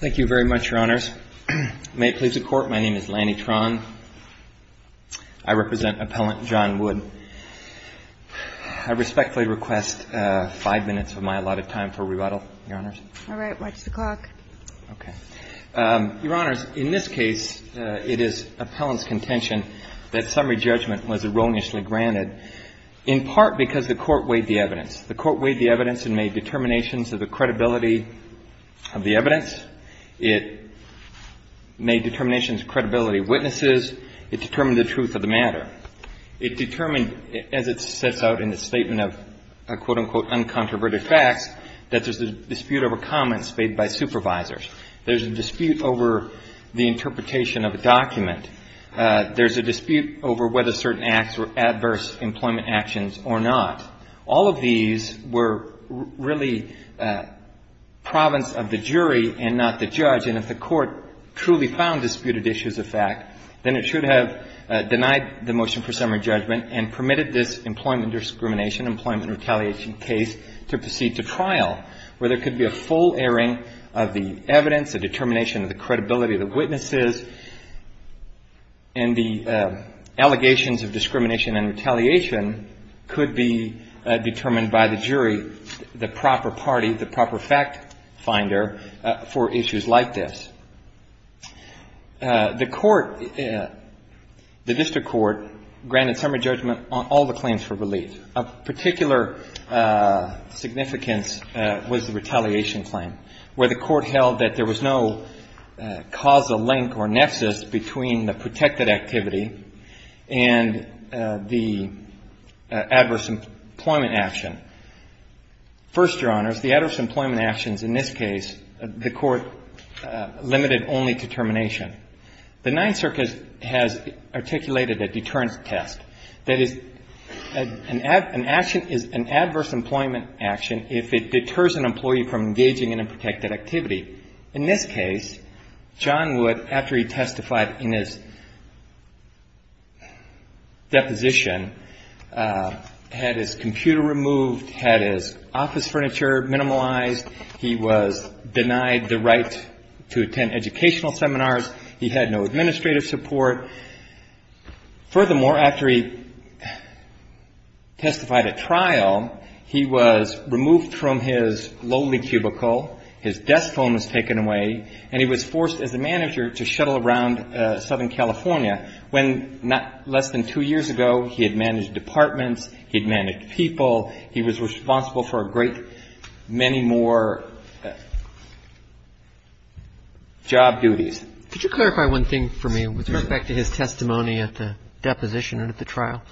Thank you very much, Your Honors. May it please the Court, my name is Lanny Tron. I represent Appellant John Wood. I respectfully request five minutes of my allotted time for rebuttal, Your Honors. All right. Watch the clock. Okay. Your Honors, in this case, it is Appellant's contention that summary judgment was erroneously granted, in part because the Court weighed the evidence. The Court weighed the evidence and made determinations of the credibility of the evidence. It made determinations of credibility of witnesses. It determined the truth of the matter. It determined, as it sets out in its statement of, quote, unquote, uncontroverted facts, that there's a dispute over comments made by supervisors. There's a dispute over the interpretation of a document. There's a dispute over whether certain acts were adverse employment actions or not. All of these were really province of the jury and not the judge. And if the Court truly found disputed issues a fact, then it should have denied the motion for summary judgment and permitted this employment discrimination, employment retaliation case to proceed to trial, where there could be a full airing of the evidence, a determination of the credibility of the witnesses, and the allegations of discrimination and retaliation could be determined by the jury, the proper party, the proper fact finder, for issues like this. The Court, the District Court, granted summary judgment on all the claims for relief. Of particular significance was the retaliation claim, where the Court held that there was no causal link or nexus between the protected activity and the adverse employment action. First, Your Honors, the adverse employment actions in this case, the Court limited only to termination. The Ninth Circuit has articulated a deterrence test. That is, an action is an adverse employment action if it deters an employee from engaging in a protected activity. In this case, John Wood, after he testified in his deposition, had his computer removed, had his office furniture minimalized, he was denied the right to attend educational seminars, he had no administrative support. Furthermore, after he testified at trial, he was removed from his loading cubicle, his desk phone was removed, his phone was taken away, and he was forced as a manager to shuttle around Southern California, when less than two years ago he had managed departments, he had managed people, he was responsible for a great many more job duties. Could you clarify one thing for me with respect to his testimony at the deposition and at the trial?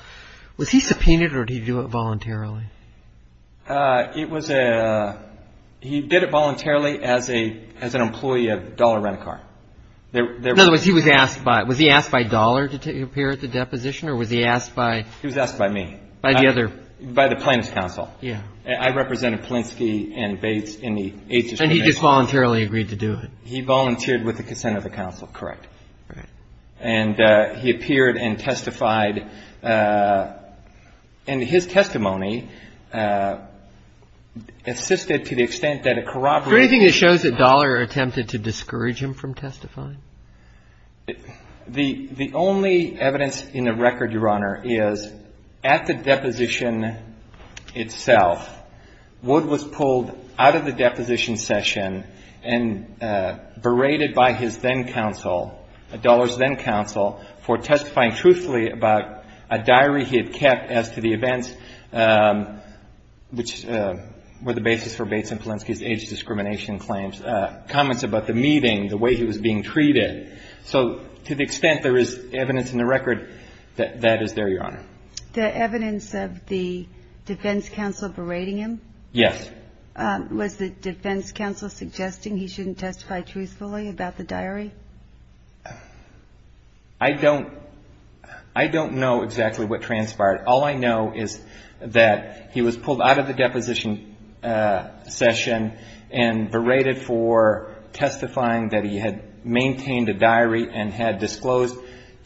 Was he subpoenaed or did he do it voluntarily? It was a, he did it voluntarily as an employee of Dollar Rent-A-Car. In other words, he was asked by, was he asked by Dollar to appear at the deposition or was he asked by? He was asked by me. By the other? By the plaintiff's counsel. Yeah. I represented Polinsky and Bates in the eighth district case. And he just voluntarily agreed to do it. He volunteered with the consent of the counsel, correct. Right. And he appeared and testified. And his testimony assisted to the extent that a corroboration. Is there anything that shows that Dollar attempted to discourage him from testifying? The only evidence in the record, Your Honor, is at the deposition itself, Wood was pulled out of the deposition session and berated by his then-counsel, Dollar's then-counsel, for testifying truthfully about a diary he had kept as to the events which were the basis for Bates and Polinsky's age discrimination claims, comments about the meeting, the way he was being treated. So to the extent there is evidence in the record, that is there, Your Honor. The evidence of the defense counsel berating him? Yes. Was the defense counsel suggesting he shouldn't testify truthfully about the diary? I don't know exactly what transpired. All I know is that he was pulled out of the deposition session and berated for testifying that he had maintained a diary and had disclosed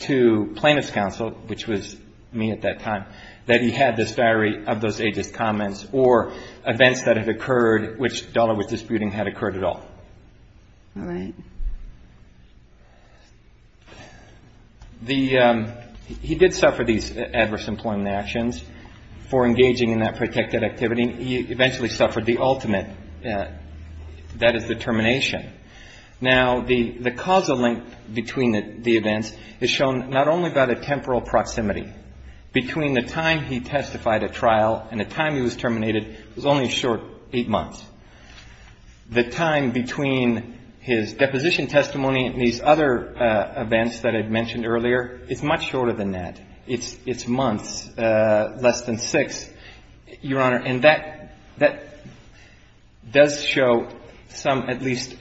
to plaintiff's counsel, which was me at that time, that he had this diary of those ages, comments, or events that had occurred which Dollar was disputing had occurred at all. All right. He did suffer these adverse employment actions for engaging in that protected activity. He eventually suffered the ultimate, that is, the termination. Now, the causal link between the events is shown not only by the temporal proximity. Between the time he testified at trial and the time he was terminated, it was only a short eight months. The time between his deposition testimony and these other events that I mentioned earlier, it's much shorter than that. It's months, less than six, Your Honor. And that does show some at least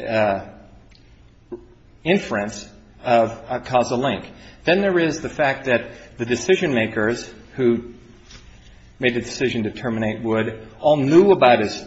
inference of a causal link. Then there is the fact that the decision-makers who made the decision to terminate Wood all knew about his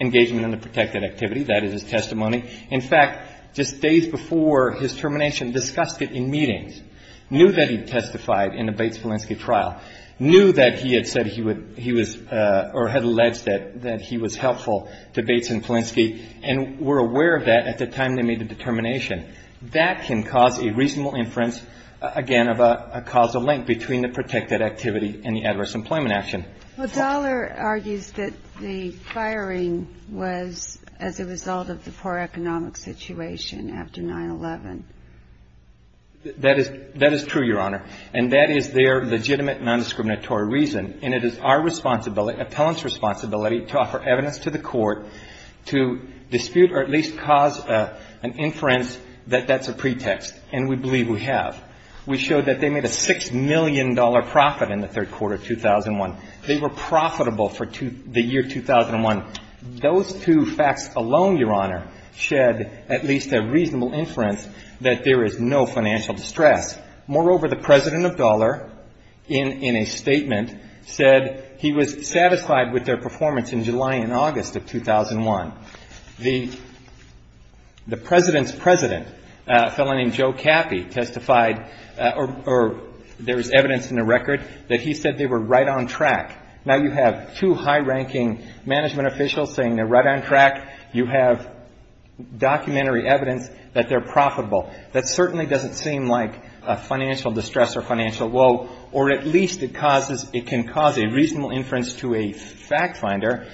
engagement in the protected activity, that is, his testimony. In fact, just days before his termination, discussed it in meetings, knew that he testified in the Bates-Felinski trial, knew that he had said he would, he was, or had alleged that he was helpful to Bates and Felinski, and were aware of that at the time they made the determination. That can cause a reasonable inference, again, of a causal link between the protected activity and the adverse employment action. I'll go back to the court in a moment. Yes. Go ahead, Judy. Well, Dollar argues that the firing was as a result of the poor economic situation after 9-11. That is true, Your Honor. And that is their legitimate nondiscriminatory reason. They were profitable for the year 2001. Those two facts alone, Your Honor, shed at least a reasonable inference that there is no financial distress. Moreover, the President of Dollar, in a statement, said he was satisfied with their performance in July and August of 2001. The President's president, a fellow named Joe Cappy, testified, or there is evidence in the record that he said they were right on track. Now you have two high-ranking management officials saying they're right on track. You have documentary evidence that they're profitable. That certainly doesn't seem like a financial distress or financial woe. Or at least it causes, it can cause a reasonable inference to a fact finder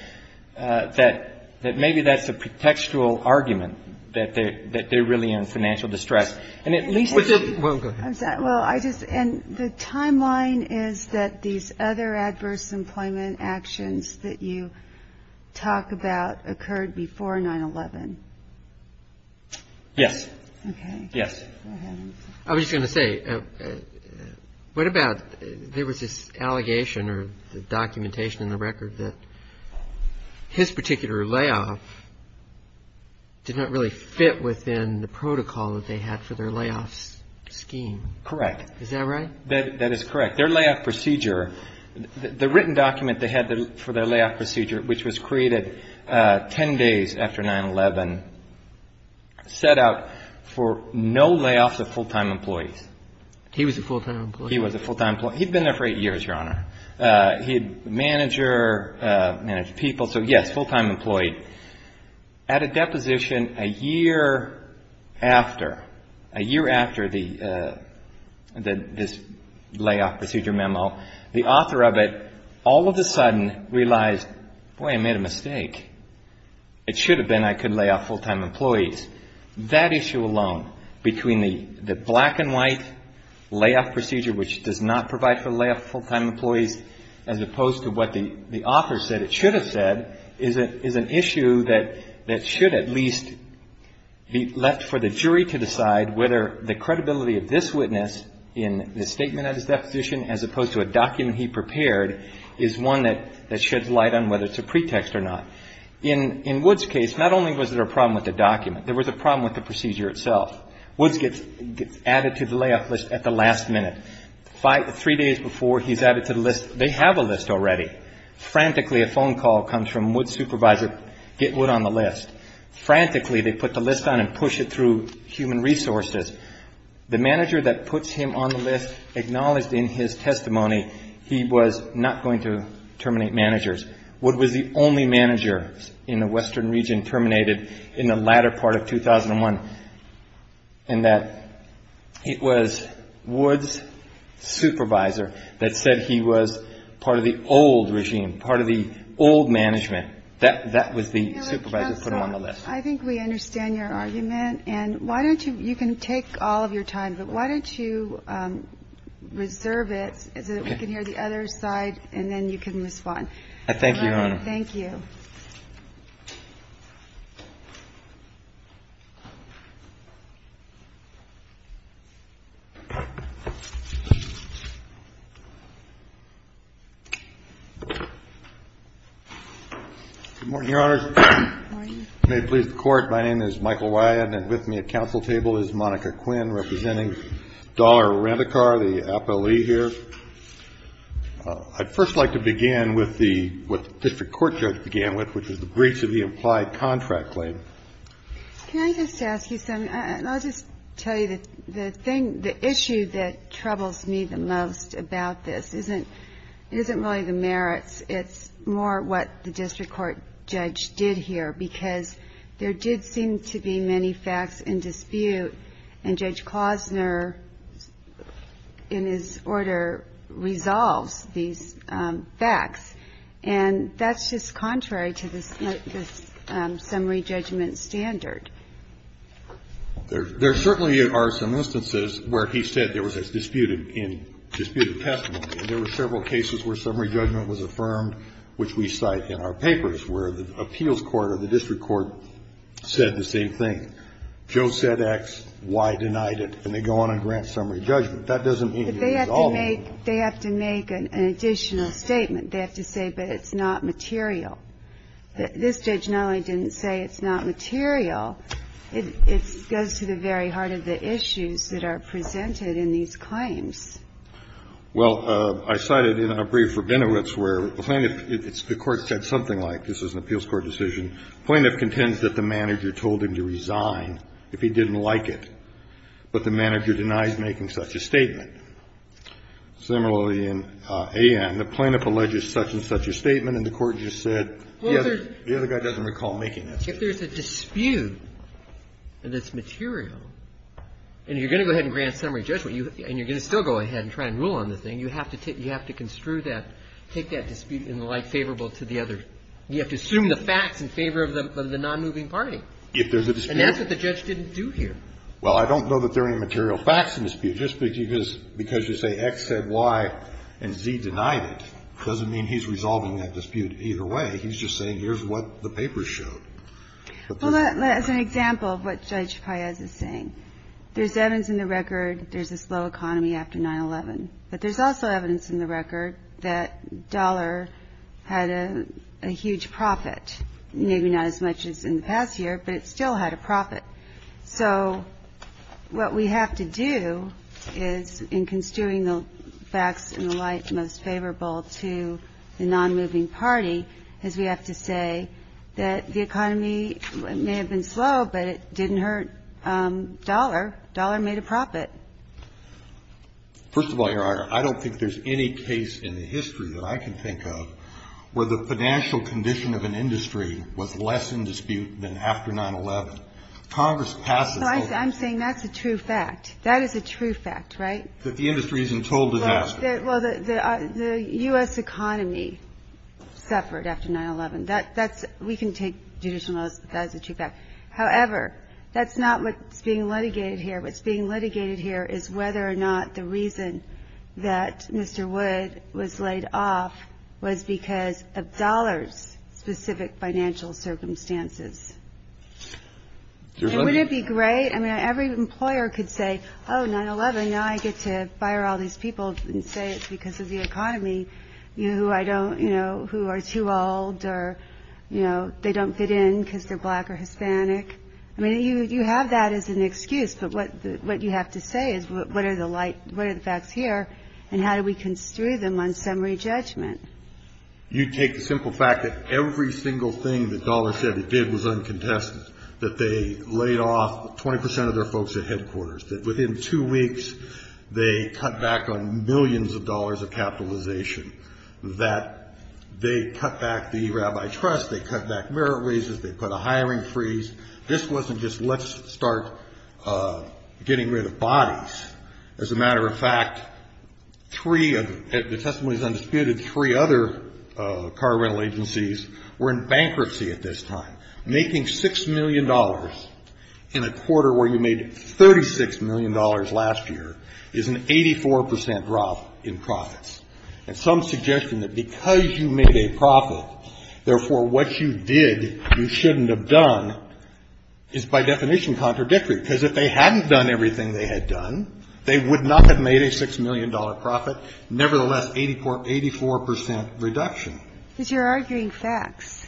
that maybe that's a contextual argument, that they're really in financial distress. And at least they should. Well, go ahead. Well, I just, and the timeline is that these other adverse employment actions that you talk about occurred before 9-11. Yes. Okay. Yes. Go ahead. I was just going to say, what about, there was this allegation or the documentation in the record that his particular layoff did not really fit within the protocol that they had for their layoffs scheme. Correct. Is that right? That is correct. Their layoff procedure, the written document they had for their layoff procedure, which was created 10 days after 9-11, set out for no layoffs of full-time employees. He was a full-time employee. He was a full-time employee. He'd been there for eight years, Your Honor. He had manager, managed people. So, yes, full-time employee. At a deposition a year after, a year after this layoff procedure memo, the author of it all of a sudden realized, boy, I made a mistake. It should have been I could layoff full-time employees. That issue alone, between the black and white layoff procedure, which does not provide for layoff full-time employees, as opposed to what the author said it should have said, is an issue that should at least be left for the jury to decide whether the credibility of this witness in the statement of his deposition, as opposed to a document he prepared, is one that sheds light on whether it's a pretext or not. In Woods' case, not only was there a problem with the document, there was a problem with the procedure itself. Woods gets added to the layoff list at the last minute. Three days before, he's added to the list. They have a list already. Frantically, a phone call comes from Woods' supervisor, get Wood on the list. Frantically, they put the list on and push it through human resources. The manager that puts him on the list acknowledged in his testimony he was not going to terminate managers. Wood was the only manager in the western region terminated in the latter part of 2001. And that it was Woods' supervisor that said he was part of the old regime, part of the old management. That was the supervisor that put him on the list. I think we understand your argument. And why don't you – you can take all of your time, but why don't you reserve it so that we can hear the other side and then you can respond. I thank you, Your Honor. Thank you. Good morning, Your Honors. Good morning. May it please the Court, my name is Michael Wyatt and with me at counsel table is Monica Quinn representing Dollar Rent-A-Car, the Apo Lee here. I'd first like to begin with the – what the district court judge began with, which is the breach of the implied contract claim. Can I just ask you something? I'll just tell you the thing – the issue that troubles me the most about this isn't really the merits. It's more what the district court judge did here, because there did seem to be many facts in dispute. And Judge Klosner, in his order, resolves these facts. And that's just contrary to the summary judgment standard. There certainly are some instances where he said there was a disputed testimony. And there were several cases where summary judgment was affirmed, which we cite in our papers, where the appeals court or the district court said the same thing. Joe said X, Y denied it, and they go on and grant summary judgment. That doesn't mean he resolved it. But they have to make – they have to make an additional statement. They have to say, but it's not material. This judge not only didn't say it's not material, it goes to the very heart of the issues that are presented in these claims. Well, I cited in a brief Rabinowitz where the plaintiff – the Court said something like this is an appeals court decision. The plaintiff contends that the manager told him to resign if he didn't like it, but the manager denies making such a statement. Similarly, in A.N., the plaintiff alleges such and such a statement, and the Court just said the other guy doesn't recall making that statement. If there's a dispute, and it's material, and you're going to go ahead and grant summary judgment, and you're going to still go ahead and try and rule on the thing, you have to construe that, take that dispute in the light favorable to the other. You have to assume the facts in favor of the nonmoving party. If there's a dispute. And that's what the judge didn't do here. Well, I don't know that there are any material facts in the dispute. Just because you say X said Y and Z denied it doesn't mean he's resolving that dispute either way. He's just saying here's what the paper showed. Well, as an example of what Judge Paez is saying, there's Evans in the record, there's this low economy after 9-11. But there's also evidence in the record that dollar had a huge profit. Maybe not as much as in the past year, but it still had a profit. So what we have to do is, in construing the facts in the light most favorable to the nonmoving party, is we have to say that the economy may have been slow, but it didn't hurt dollar. Dollar made a profit. First of all, Your Honor, I don't think there's any case in the history that I can think of where the financial condition of an industry was less in dispute than after 9-11. Congress passes those. I'm saying that's a true fact. That is a true fact, right? That the industry is in total disaster. Well, the U.S. economy suffered after 9-11. That's we can take judicial notice that that is a true fact. However, that's not what's being litigated here. What's being litigated here is whether or not the reason that Mr. Wood was laid off was because of dollar's specific financial circumstances. And wouldn't it be great? I mean, every employer could say, oh, 9-11, now I get to fire all these people and say it's because of the economy, you know, who are too old or, you know, they don't fit in because they're black or Hispanic. I mean, you have that as an excuse. But what you have to say is what are the facts here and how do we construe them on summary judgment? You take the simple fact that every single thing that dollar said it did was uncontested, that they laid off 20 percent of their folks at headquarters, that within two weeks they cut back on millions of dollars of capitalization, that they cut back the rabbi trust, they cut back merit raises, they put a hiring freeze. This wasn't just let's start getting rid of bodies. As a matter of fact, three of the testimonies undisputed, three other car rental agencies were in bankruptcy at this time, making $6 million in a quarter where you made $36 million last year is an 84 percent drop in profits. And some suggestion that because you made a profit, therefore, what you did you shouldn't have done is by definition contradictory. Because if they hadn't done everything they had done, they would not have made a $6 million profit. Nevertheless, 84 percent reduction. Because you're arguing facts.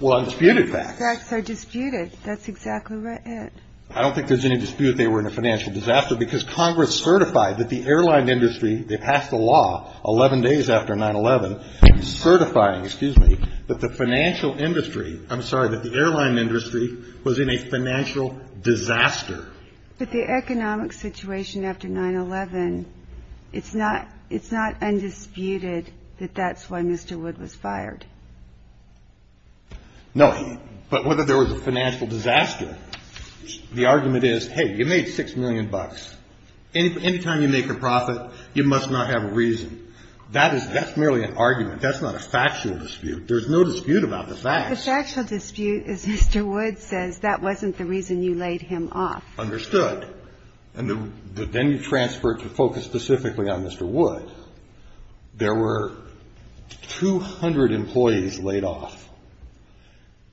Well, undisputed facts. Facts are disputed. That's exactly right. I don't think there's any dispute they were in a financial disaster because Congress certified that the airline industry, they passed a law 11 days after 9-11 certifying, excuse me, that the financial industry, I'm sorry, that the airline industry was in a financial disaster. But the economic situation after 9-11, it's not undisputed that that's why Mr. Wood was fired. No. But whether there was a financial disaster, the argument is, hey, you made $6 million. Any time you make a profit, you must not have a reason. That's merely an argument. That's not a factual dispute. There's no dispute about the facts. The factual dispute is Mr. Wood says that wasn't the reason you laid him off. Understood. But then you transfer it to focus specifically on Mr. Wood. There were 200 employees laid off.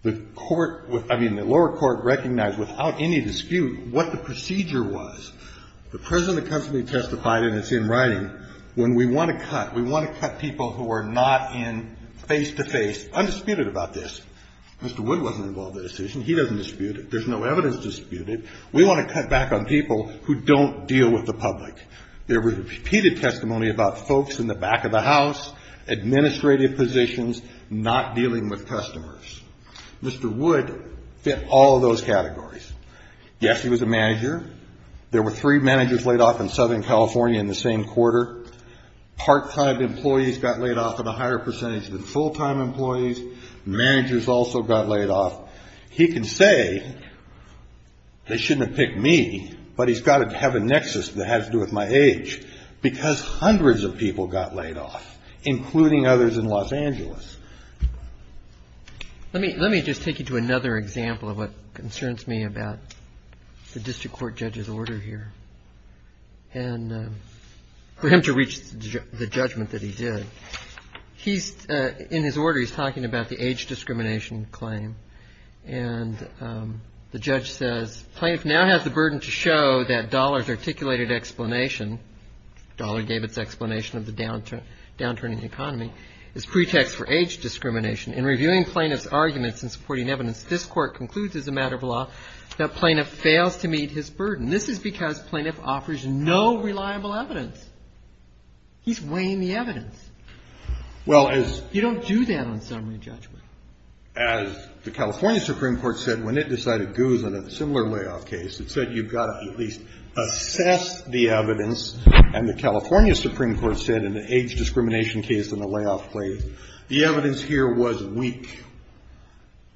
The court, I mean, the lower court recognized without any dispute what the procedure was. The President constantly testified, and it's in writing, when we want to cut, we want to cut people who are not in face-to-face, undisputed about this. Mr. Wood wasn't involved in the decision. He doesn't dispute it. There's no evidence to dispute it. We want to cut back on people who don't deal with the public. There was repeated testimony about folks in the back of the house, administrative positions, not dealing with customers. Mr. Wood fit all of those categories. Yes, he was a manager. There were three managers laid off in Southern California in the same quarter. Part-time employees got laid off in a higher percentage than full-time employees. Managers also got laid off. He can say they shouldn't have picked me, but he's got to have a nexus that has to do with my age, because hundreds of people got laid off, including others in Los Angeles. Let me just take you to another example of what concerns me about the district court judge's order here. And for him to reach the judgment that he did, in his order he's talking about the age discrimination claim. And the judge says, Plaintiff now has the burden to show that Dollar's articulated explanation, Dollar gave its explanation of the downturn in the economy, is pretext for age discrimination. In reviewing plaintiff's arguments and supporting evidence, this court concludes as a matter of law that plaintiff fails to meet his burden. This is because plaintiff offers no reliable evidence. He's weighing the evidence. You don't do that on summary judgment. As the California Supreme Court said when it decided Guzman had a similar layoff case, it said you've got to at least assess the evidence. And the California Supreme Court said in the age discrimination case and the layoff claim, the evidence here was weak.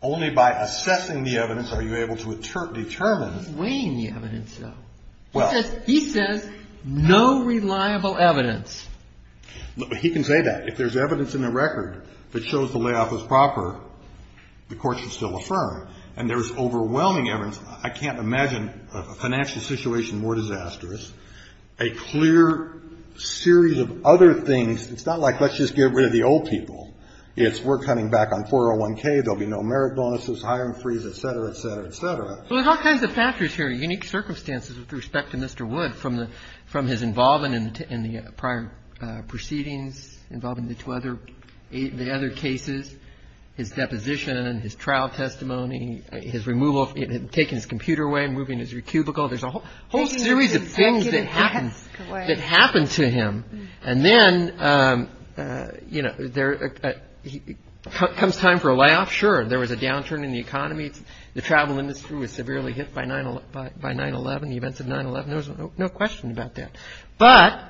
Only by assessing the evidence are you able to determine. He's weighing the evidence, though. He says no reliable evidence. He can say that. If there's evidence in the record that shows the layoff was proper, the court should still affirm. And there's overwhelming evidence. I can't imagine a financial situation more disastrous. A clear series of other things. It's not like let's just get rid of the old people. It's we're coming back on 401K. There will be no merit bonuses, hiring freeze, et cetera, et cetera, et cetera. There's all kinds of factors here, unique circumstances with respect to Mr. Wood from his involvement in the prior proceedings, involving the two other cases, his deposition and his trial testimony, his removal, taking his computer away and moving his cubicle. There's a whole series of things that happened to him. And then, you know, there comes time for a layoff. Sure, there was a downturn in the economy. The travel industry was severely hit by 9-11, the events of 9-11. There was no question about that. But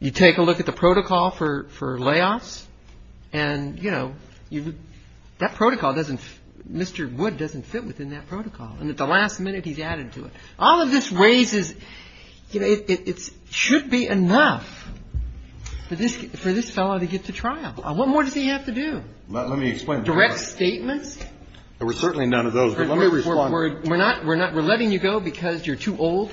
you take a look at the protocol for layoffs and, you know, that protocol doesn't Mr. Wood doesn't fit within that protocol. And at the last minute, he's added to it. All of this raises, you know, it should be enough for this fellow to get to trial. What more does he have to do? Let me explain. Direct statements? There were certainly none of those. But let me respond. We're not we're not we're letting you go because you're too old?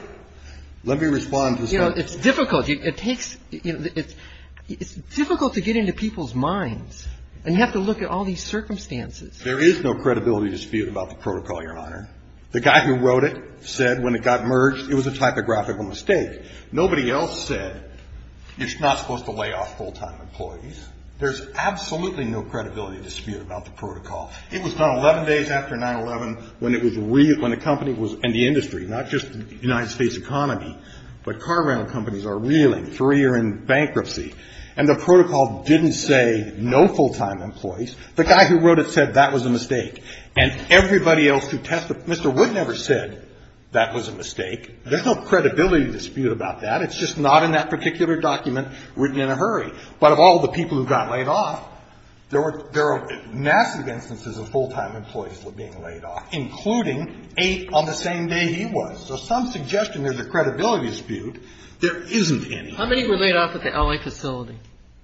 Let me respond to this. You know, it's difficult. It takes it's difficult to get into people's minds. And you have to look at all these circumstances. There is no credibility dispute about the protocol, Your Honor. The guy who wrote it said when it got merged it was a typographical mistake. Nobody else said you're not supposed to lay off full-time employees. There's absolutely no credibility dispute about the protocol. It was not 11 days after 9-11 when it was when the company was in the industry, not just the United States economy. But car rental companies are reeling. Three are in bankruptcy. And the protocol didn't say no full-time employees. The guy who wrote it said that was a mistake. And everybody else who tested Mr. Wood never said that was a mistake. There's no credibility dispute about that. It's just not in that particular document written in a hurry. But of all the people who got laid off, there are massive instances of full-time employees being laid off, including eight on the same day he was. So some suggestion there's a credibility dispute. There isn't any. How many were laid off at the L.A. facility?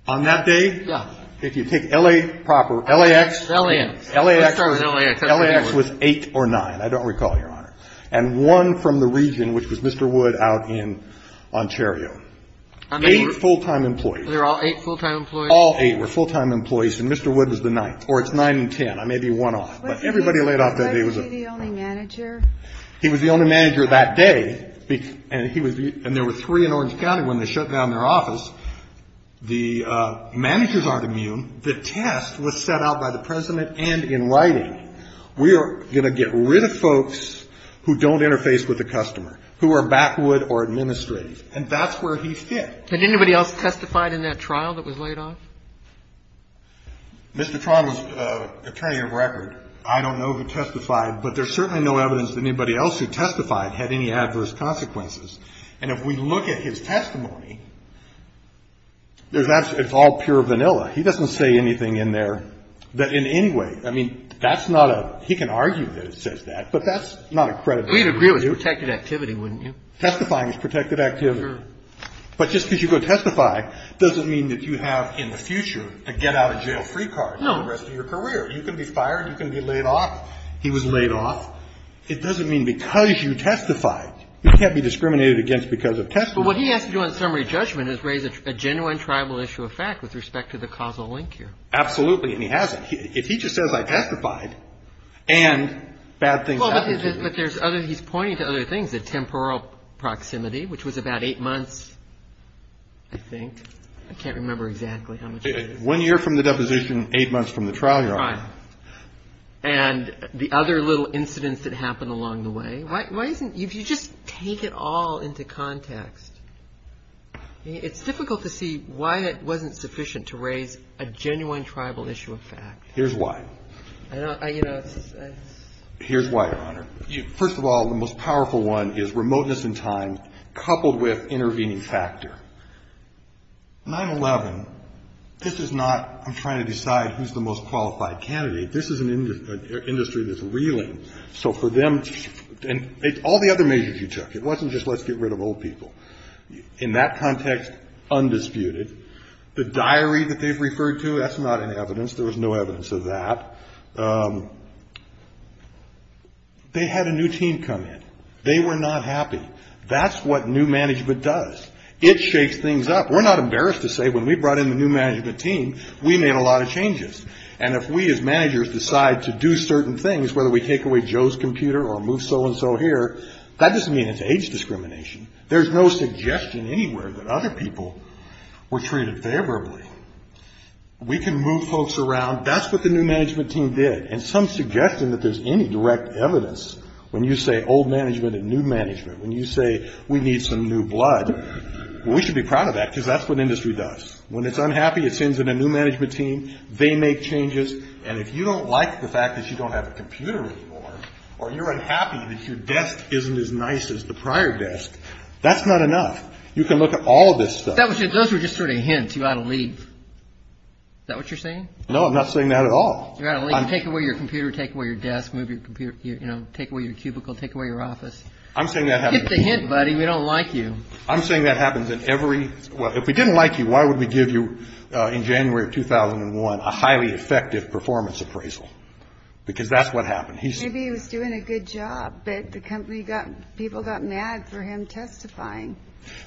On that day? Yeah. If you take L.A. proper, L.A.X. L.A.X. L.A.X. Let's start with L.A.X. L.A.X. was eight or nine. I don't recall, Your Honor. And one from the region, which was Mr. Wood out in Ontario. Eight full-time employees. Were there all eight full-time employees? All eight were full-time employees. And Mr. Wood was the ninth. Or it's nine and ten. I may be one off. But everybody laid off that day. Was he the only manager? He was the only manager that day. And there were three in Orange County when they shut down their office. The managers aren't immune. The test was set out by the President and in writing. We are going to get rid of folks who don't interface with the customer, who are backwood or administrative. And that's where he fit. And anybody else testified in that trial that was laid off? Mr. Tron was attorney of record. I don't know who testified. But there's certainly no evidence that anybody else who testified had any adverse consequences. And if we look at his testimony, it's all pure vanilla. He doesn't say anything in there that in any way, I mean, that's not a he can argue that it says that. But that's not a credible view. We'd agree it was protected activity, wouldn't you? Testifying is protected activity. Sure. But just because you go testify doesn't mean that you have in the future a get-out-of-jail-free card. No. For the rest of your career. You can be fired. You can be laid off. He was laid off. It doesn't mean because you testified. You can't be discriminated against because of testimony. But what he has to do on summary judgment is raise a genuine tribal issue of fact with respect to the causal link here. And he hasn't. If he just says I testified and bad things happened to you. But there's other, he's pointing to other things, the temporal proximity, which was about eight months, I think. I can't remember exactly how much. One year from the deposition, eight months from the trial you're on. And the other little incidents that happened along the way. Why isn't, if you just take it all into context, it's difficult to see why it wasn't sufficient to raise a genuine tribal issue of fact. Here's why. First of all, the most powerful one is remoteness in time coupled with intervening factor. 9-11, this is not I'm trying to decide who's the most qualified candidate. This is an industry that's reeling. So for them, and all the other measures you took, it wasn't just let's get rid of old people. In that context, undisputed. The diary that they've referred to, that's not an evidence. There was no evidence of that. They had a new team come in. They were not happy. That's what new management does. It shakes things up. We're not embarrassed to say when we brought in the new management team, we made a lot of changes. And if we as managers decide to do certain things, whether we take away Joe's computer or move so and so here, that doesn't mean it's age discrimination. There's no suggestion anywhere that other people were treated favorably. We can move folks around. That's what the new management team did. And some suggestion that there's any direct evidence when you say old management and new management, when you say we need some new blood, we should be proud of that because that's what industry does. When it's unhappy, it sends in a new management team. They make changes. And if you don't like the fact that you don't have a computer anymore or you're unhappy that your desk isn't as nice as the prior desk, that's not enough. You can look at all of this stuff. Those were just sort of hints. You ought to leave. Is that what you're saying? No, I'm not saying that at all. You ought to leave. Take away your computer. Take away your desk. Move your computer. Take away your cubicle. Take away your office. I'm saying that happens. Get the hint, buddy. We don't like you. I'm saying that happens in every. Well, if we didn't like you, why would we give you in January of 2001 a highly effective performance appraisal? Because that's what happened. Maybe he was doing a good job, but the company got, people got mad for him testifying.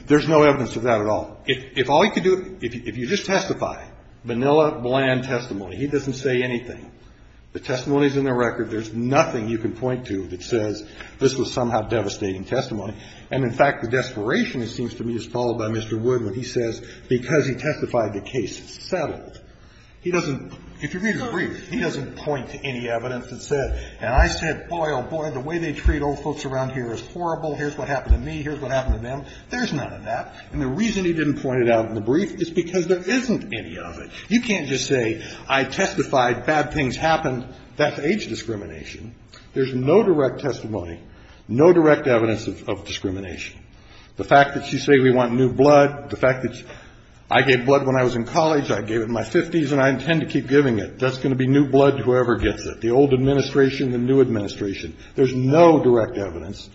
There's no evidence of that at all. If all he could do, if you just testify, vanilla, bland testimony, he doesn't say anything. The testimony's in the record. There's nothing you can point to that says this was somehow devastating testimony. And, in fact, the desperation, it seems to me, is followed by Mr. Wood when he says because he testified, the case is settled. He doesn't, if you read his brief, he doesn't point to any evidence that said, and I said, boy, oh, boy, the way they treat old folks around here is horrible. Here's what happened to me. Here's what happened to them. There's none of that. And the reason he didn't point it out in the brief is because there isn't any of it. You can't just say I testified, bad things happened. That's age discrimination. There's no direct testimony, no direct evidence of discrimination. The fact that you say we want new blood, the fact that I gave blood when I was in college, I gave it in my 50s, and I intend to keep giving it, that's going to be new blood to whoever gets it, the old administration, the new administration. There's no direct evidence.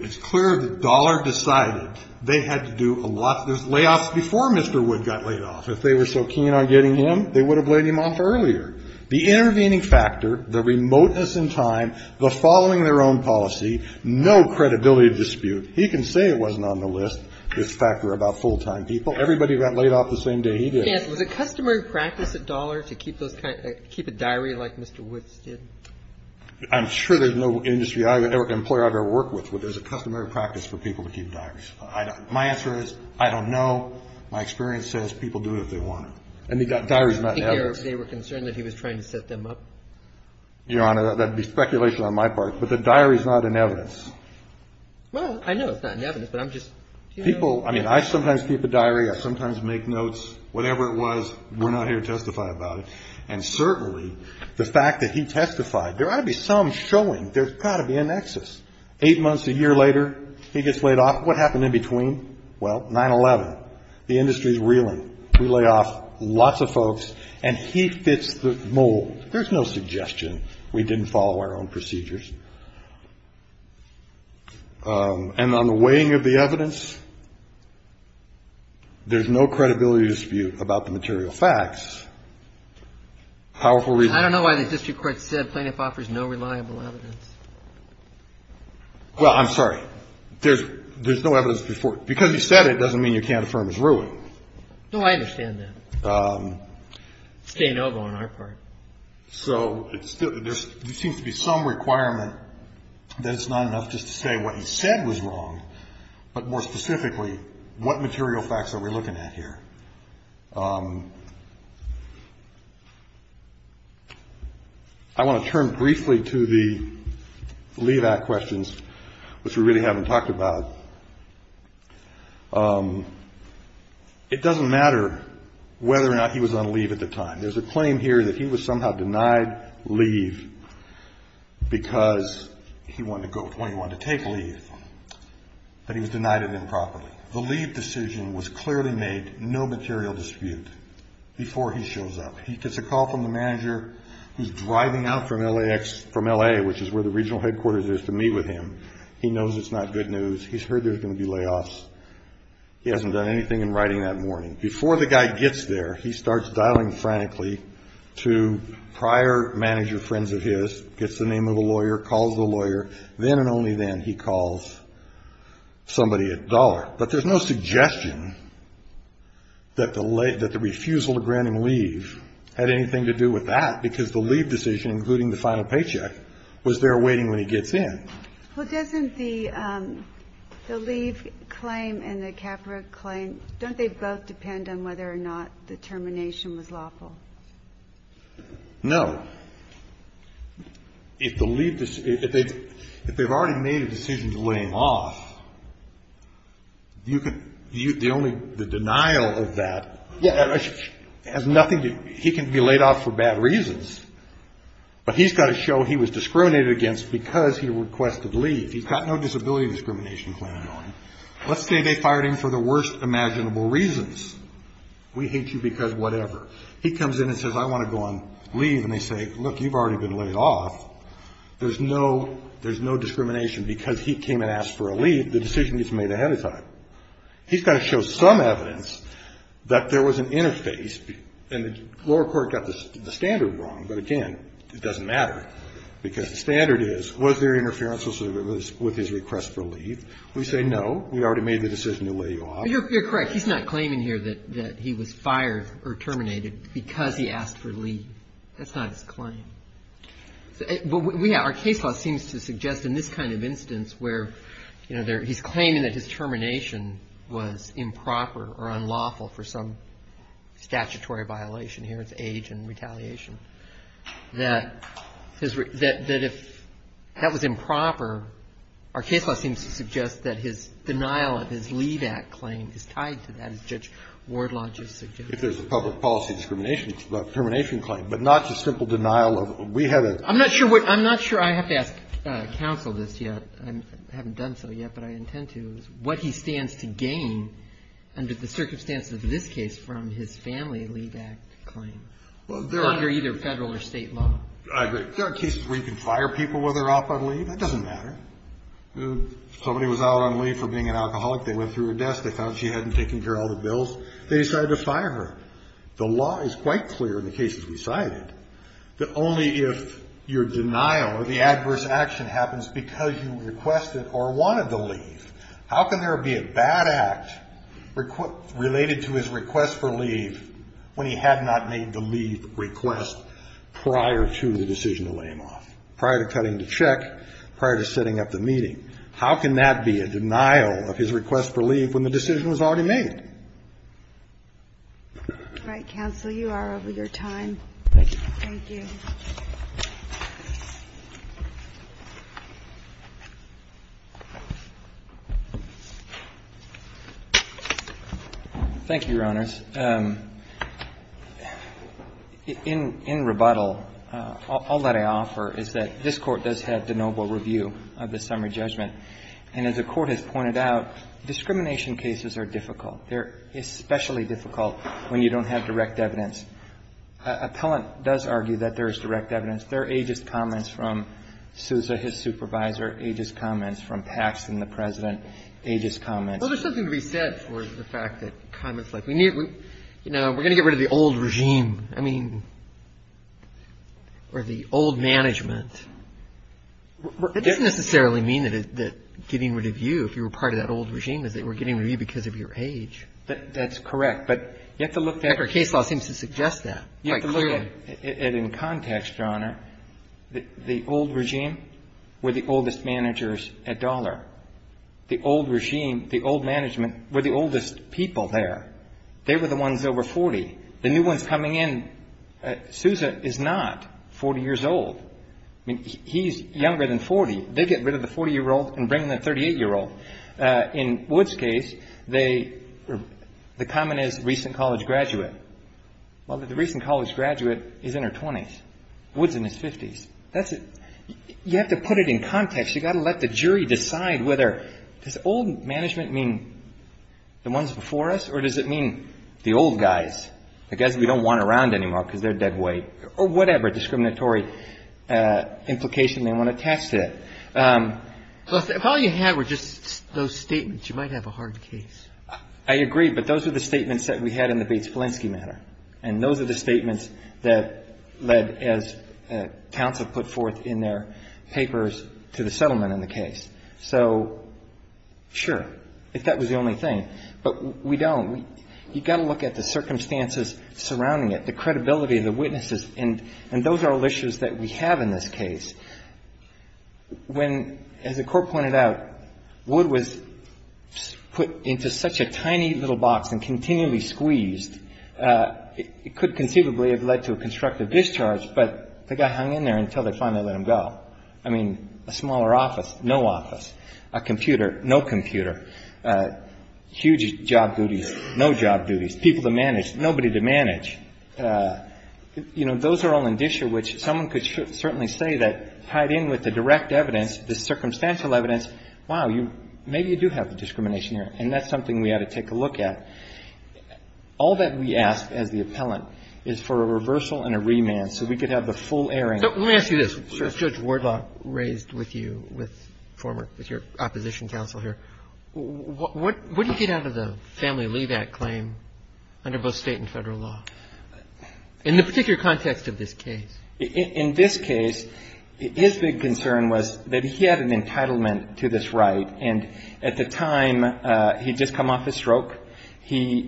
It's clear that Dollar decided they had to do a lot. There's layoffs before Mr. Wood got laid off. If they were so keen on getting him, they would have laid him off earlier. The intervening factor, the remoteness in time, the following their own policy, no credibility dispute. He can say it wasn't on the list, this factor about full-time people. Everybody got laid off the same day he did. I'm sure there's no industry or employer I've ever worked with where there's a customary practice for people to keep diaries. My answer is I don't know. My experience says people do it if they want to. And he got diaries not in evidence. They were concerned that he was trying to set them up. Your Honor, that would be speculation on my part. But the diary's not in evidence. Well, I know it's not in evidence, but I'm just, you know. People, I mean, I sometimes keep a diary. I sometimes make notes. Whatever it was, we're not here to testify about it. And certainly the fact that he testified, there ought to be some showing there's got to be a nexus. Eight months, a year later, he gets laid off. What happened in between? Well, 9-11, the industry's reeling. We lay off lots of folks, and he fits the mold. There's no suggestion we didn't follow our own procedures. And on the weighing of the evidence, there's no credibility dispute about the material facts. Powerful reason. I don't know why the district court said plaintiff offers no reliable evidence. Well, I'm sorry. There's no evidence before. Because he said it doesn't mean you can't affirm it's ruined. No, I understand that. It's de novo on our part. So there seems to be some requirement that it's not enough just to say what he said was wrong, but more specifically, what material facts are we looking at here? I want to turn briefly to the leave-out questions, which we really haven't talked about. It doesn't matter whether or not he was on leave at the time. There's a claim here that he was somehow denied leave because he wanted to go, he wanted to take leave, but he was denied it improperly. The leave decision was clearly made, no material dispute, before he shows up. He gets a call from the manager who's driving out from LA, which is where the regional headquarters is, to meet with him. He knows it's not good news. He's heard there's going to be layoffs. He hasn't done anything in writing that morning. Before the guy gets there, he starts dialing frantically to prior manager friends of his, gets the name of the lawyer, calls the lawyer. Then and only then he calls somebody at the dollar. But there's no suggestion that the refusal to grant him leave had anything to do with that, because the leave decision, including the final paycheck, was there waiting when he gets in. Well, doesn't the leave claim and the CAFRA claim, don't they both depend on whether or not the termination was lawful? No. If the leave, if they've already made a decision to lay him off, you could, the only, the denial of that has nothing to, he can be laid off for bad reasons. But he's got to show he was discriminated against because he requested leave. He's got no disability discrimination claim on him. Let's say they fired him for the worst imaginable reasons. We hate you because whatever. He comes in and says, I want to go on leave. And they say, look, you've already been laid off. There's no discrimination because he came and asked for a leave. The decision gets made ahead of time. He's got to show some evidence that there was an interface, and the lower court got the standard wrong. But again, it doesn't matter because the standard is, was there interference with his request for leave? We say no. We already made the decision to lay you off. You're correct. He's not claiming here that he was fired or terminated because he asked for leave. That's not his claim. But we have, our case law seems to suggest in this kind of instance where, you know, he's claiming that his termination was improper or unlawful for some statutory violation. Here it's age and retaliation. That if that was improper, our case law seems to suggest that his denial of his leave act claim is tied to that, as Judge Wardlodge has suggested. If there's a public policy discrimination termination claim, but not just simple denial of it. We have a. I'm not sure I have to ask counsel this yet. I haven't done so yet, but I intend to. What he stands to gain under the circumstances of this case from his family leave act claim. Under either Federal or State law. There are cases where you can fire people when they're off on leave. That doesn't matter. Somebody was out on leave for being an alcoholic. They went through her desk. They found she hadn't taken care of all the bills. They decided to fire her. The law is quite clear in the cases we cited that only if your denial or the adverse action happens because you requested or wanted the leave. How can there be a bad act related to his request for leave when he had not made the leave request prior to the decision to lay him off? Prior to cutting the check. Prior to setting up the meeting. How can that be a denial of his request for leave when the decision was already made? All right, counsel. You are over your time. Thank you. Thank you. Thank you, Your Honors. In rebuttal, all that I offer is that this Court does have the noble review of the summary judgment. And as the Court has pointed out, discrimination cases are difficult. They're especially difficult when you don't have direct evidence. Appellant does argue that there is direct evidence. There are ageist comments from Sousa, his supervisor, ageist comments from Pax and the President, ageist comments. Well, there's something to be said for the fact that comments like, you know, we're going to get rid of the old regime. I mean, or the old management. That doesn't necessarily mean that getting rid of you, if you were part of that old regime, is that we're getting rid of you because of your age. That's correct. But you have to look at the case law seems to suggest that. You have to look at it in context, Your Honor. The old regime were the oldest managers at Dollar. The old regime, the old management, were the oldest people there. They were the ones over 40. The new ones coming in, Sousa is not 40 years old. I mean, he's younger than 40. They get rid of the 40-year-old and bring in the 38-year-old. In Wood's case, the comment is recent college graduate. Well, the recent college graduate is in her 20s. Wood's in his 50s. You have to put it in context. You've got to let the jury decide whether does old management mean the ones before us or does it mean the old guys, the guys we don't want around anymore because they're dead weight, or whatever discriminatory implication they want attached to that. If all you had were just those statements, you might have a hard case. I agree, but those are the statements that we had in the Bates-Volinsky matter, and those are the statements that led, as counsel put forth in their papers, to the settlement in the case. So, sure, if that was the only thing. But we don't. You've got to look at the circumstances surrounding it, the credibility of the witnesses, and those are all issues that we have in this case. When, as the court pointed out, Wood was put into such a tiny little box and continually squeezed, it could conceivably have led to a constructive discharge, but the guy hung in there until they finally let him go. I mean, a smaller office, no office. A computer, no computer. Huge job duties, no job duties. People to manage, nobody to manage. You know, those are all an issue which someone could certainly say that tied in with the direct evidence, the circumstantial evidence, wow, maybe you do have the discrimination here, and that's something we ought to take a look at. All that we ask as the appellant is for a reversal and a remand so we could have the full airing. Let me ask you this. Judge Wardlaw raised with you, with former, with your opposition counsel here, what do you get out of the family leave act claim under both State and Federal law, in the particular context of this case? In this case, his big concern was that he had an entitlement to this right, and at the time, he'd just come off his stroke. They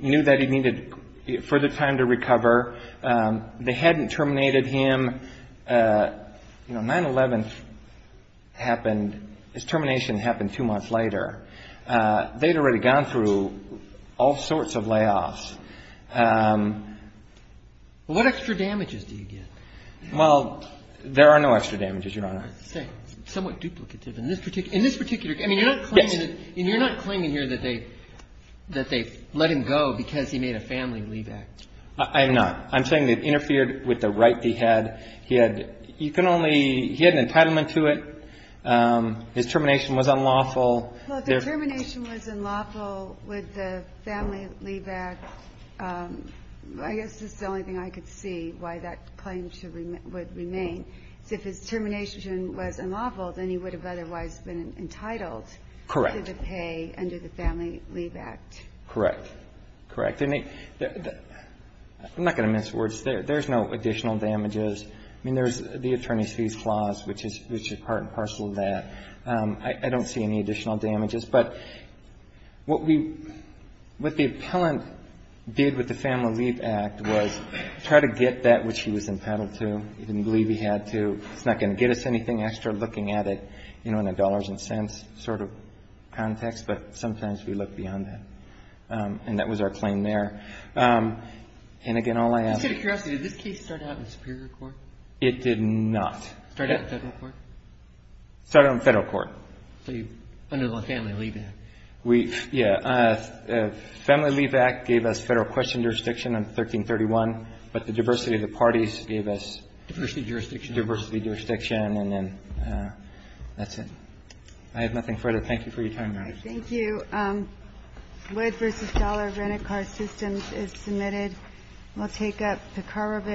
hadn't terminated him. You know, 9-11 happened, his termination happened two months later. They'd already gone through all sorts of layoffs. What extra damages do you get? Well, there are no extra damages, Your Honor. Somewhat duplicative in this particular case. I mean, you're not claiming here that they let him go because he made a family leave act. I am not. I'm saying they interfered with the right he had. He had, you can only, he had an entitlement to it. His termination was unlawful. Well, if the termination was unlawful with the family leave act, I guess this is the only thing I could see why that claim would remain. If his termination was unlawful, then he would have otherwise been entitled to the pay under the family leave act. Correct. Correct. I'm not going to mince words. There's no additional damages. I mean, there's the attorney's fees clause, which is part and parcel of that. I don't see any additional damages. But what we, what the appellant did with the family leave act was try to get that which he was entitled to. He didn't believe he had to. It's not going to get us anything extra looking at it, you know, in a dollars and cents sort of context, but sometimes we look beyond that. And that was our claim there. And again, all I ask. Just out of curiosity, did this case start out in superior court? It did not. Start out in federal court? Start out in federal court. So under the family leave act. Yeah. Family leave act gave us federal question jurisdiction on 1331, but the diversity of the parties gave us. Diversity of jurisdiction. Diversity of jurisdiction. And then that's it. I have nothing further. Thank you for your time, Your Honor. Thank you. Thank you.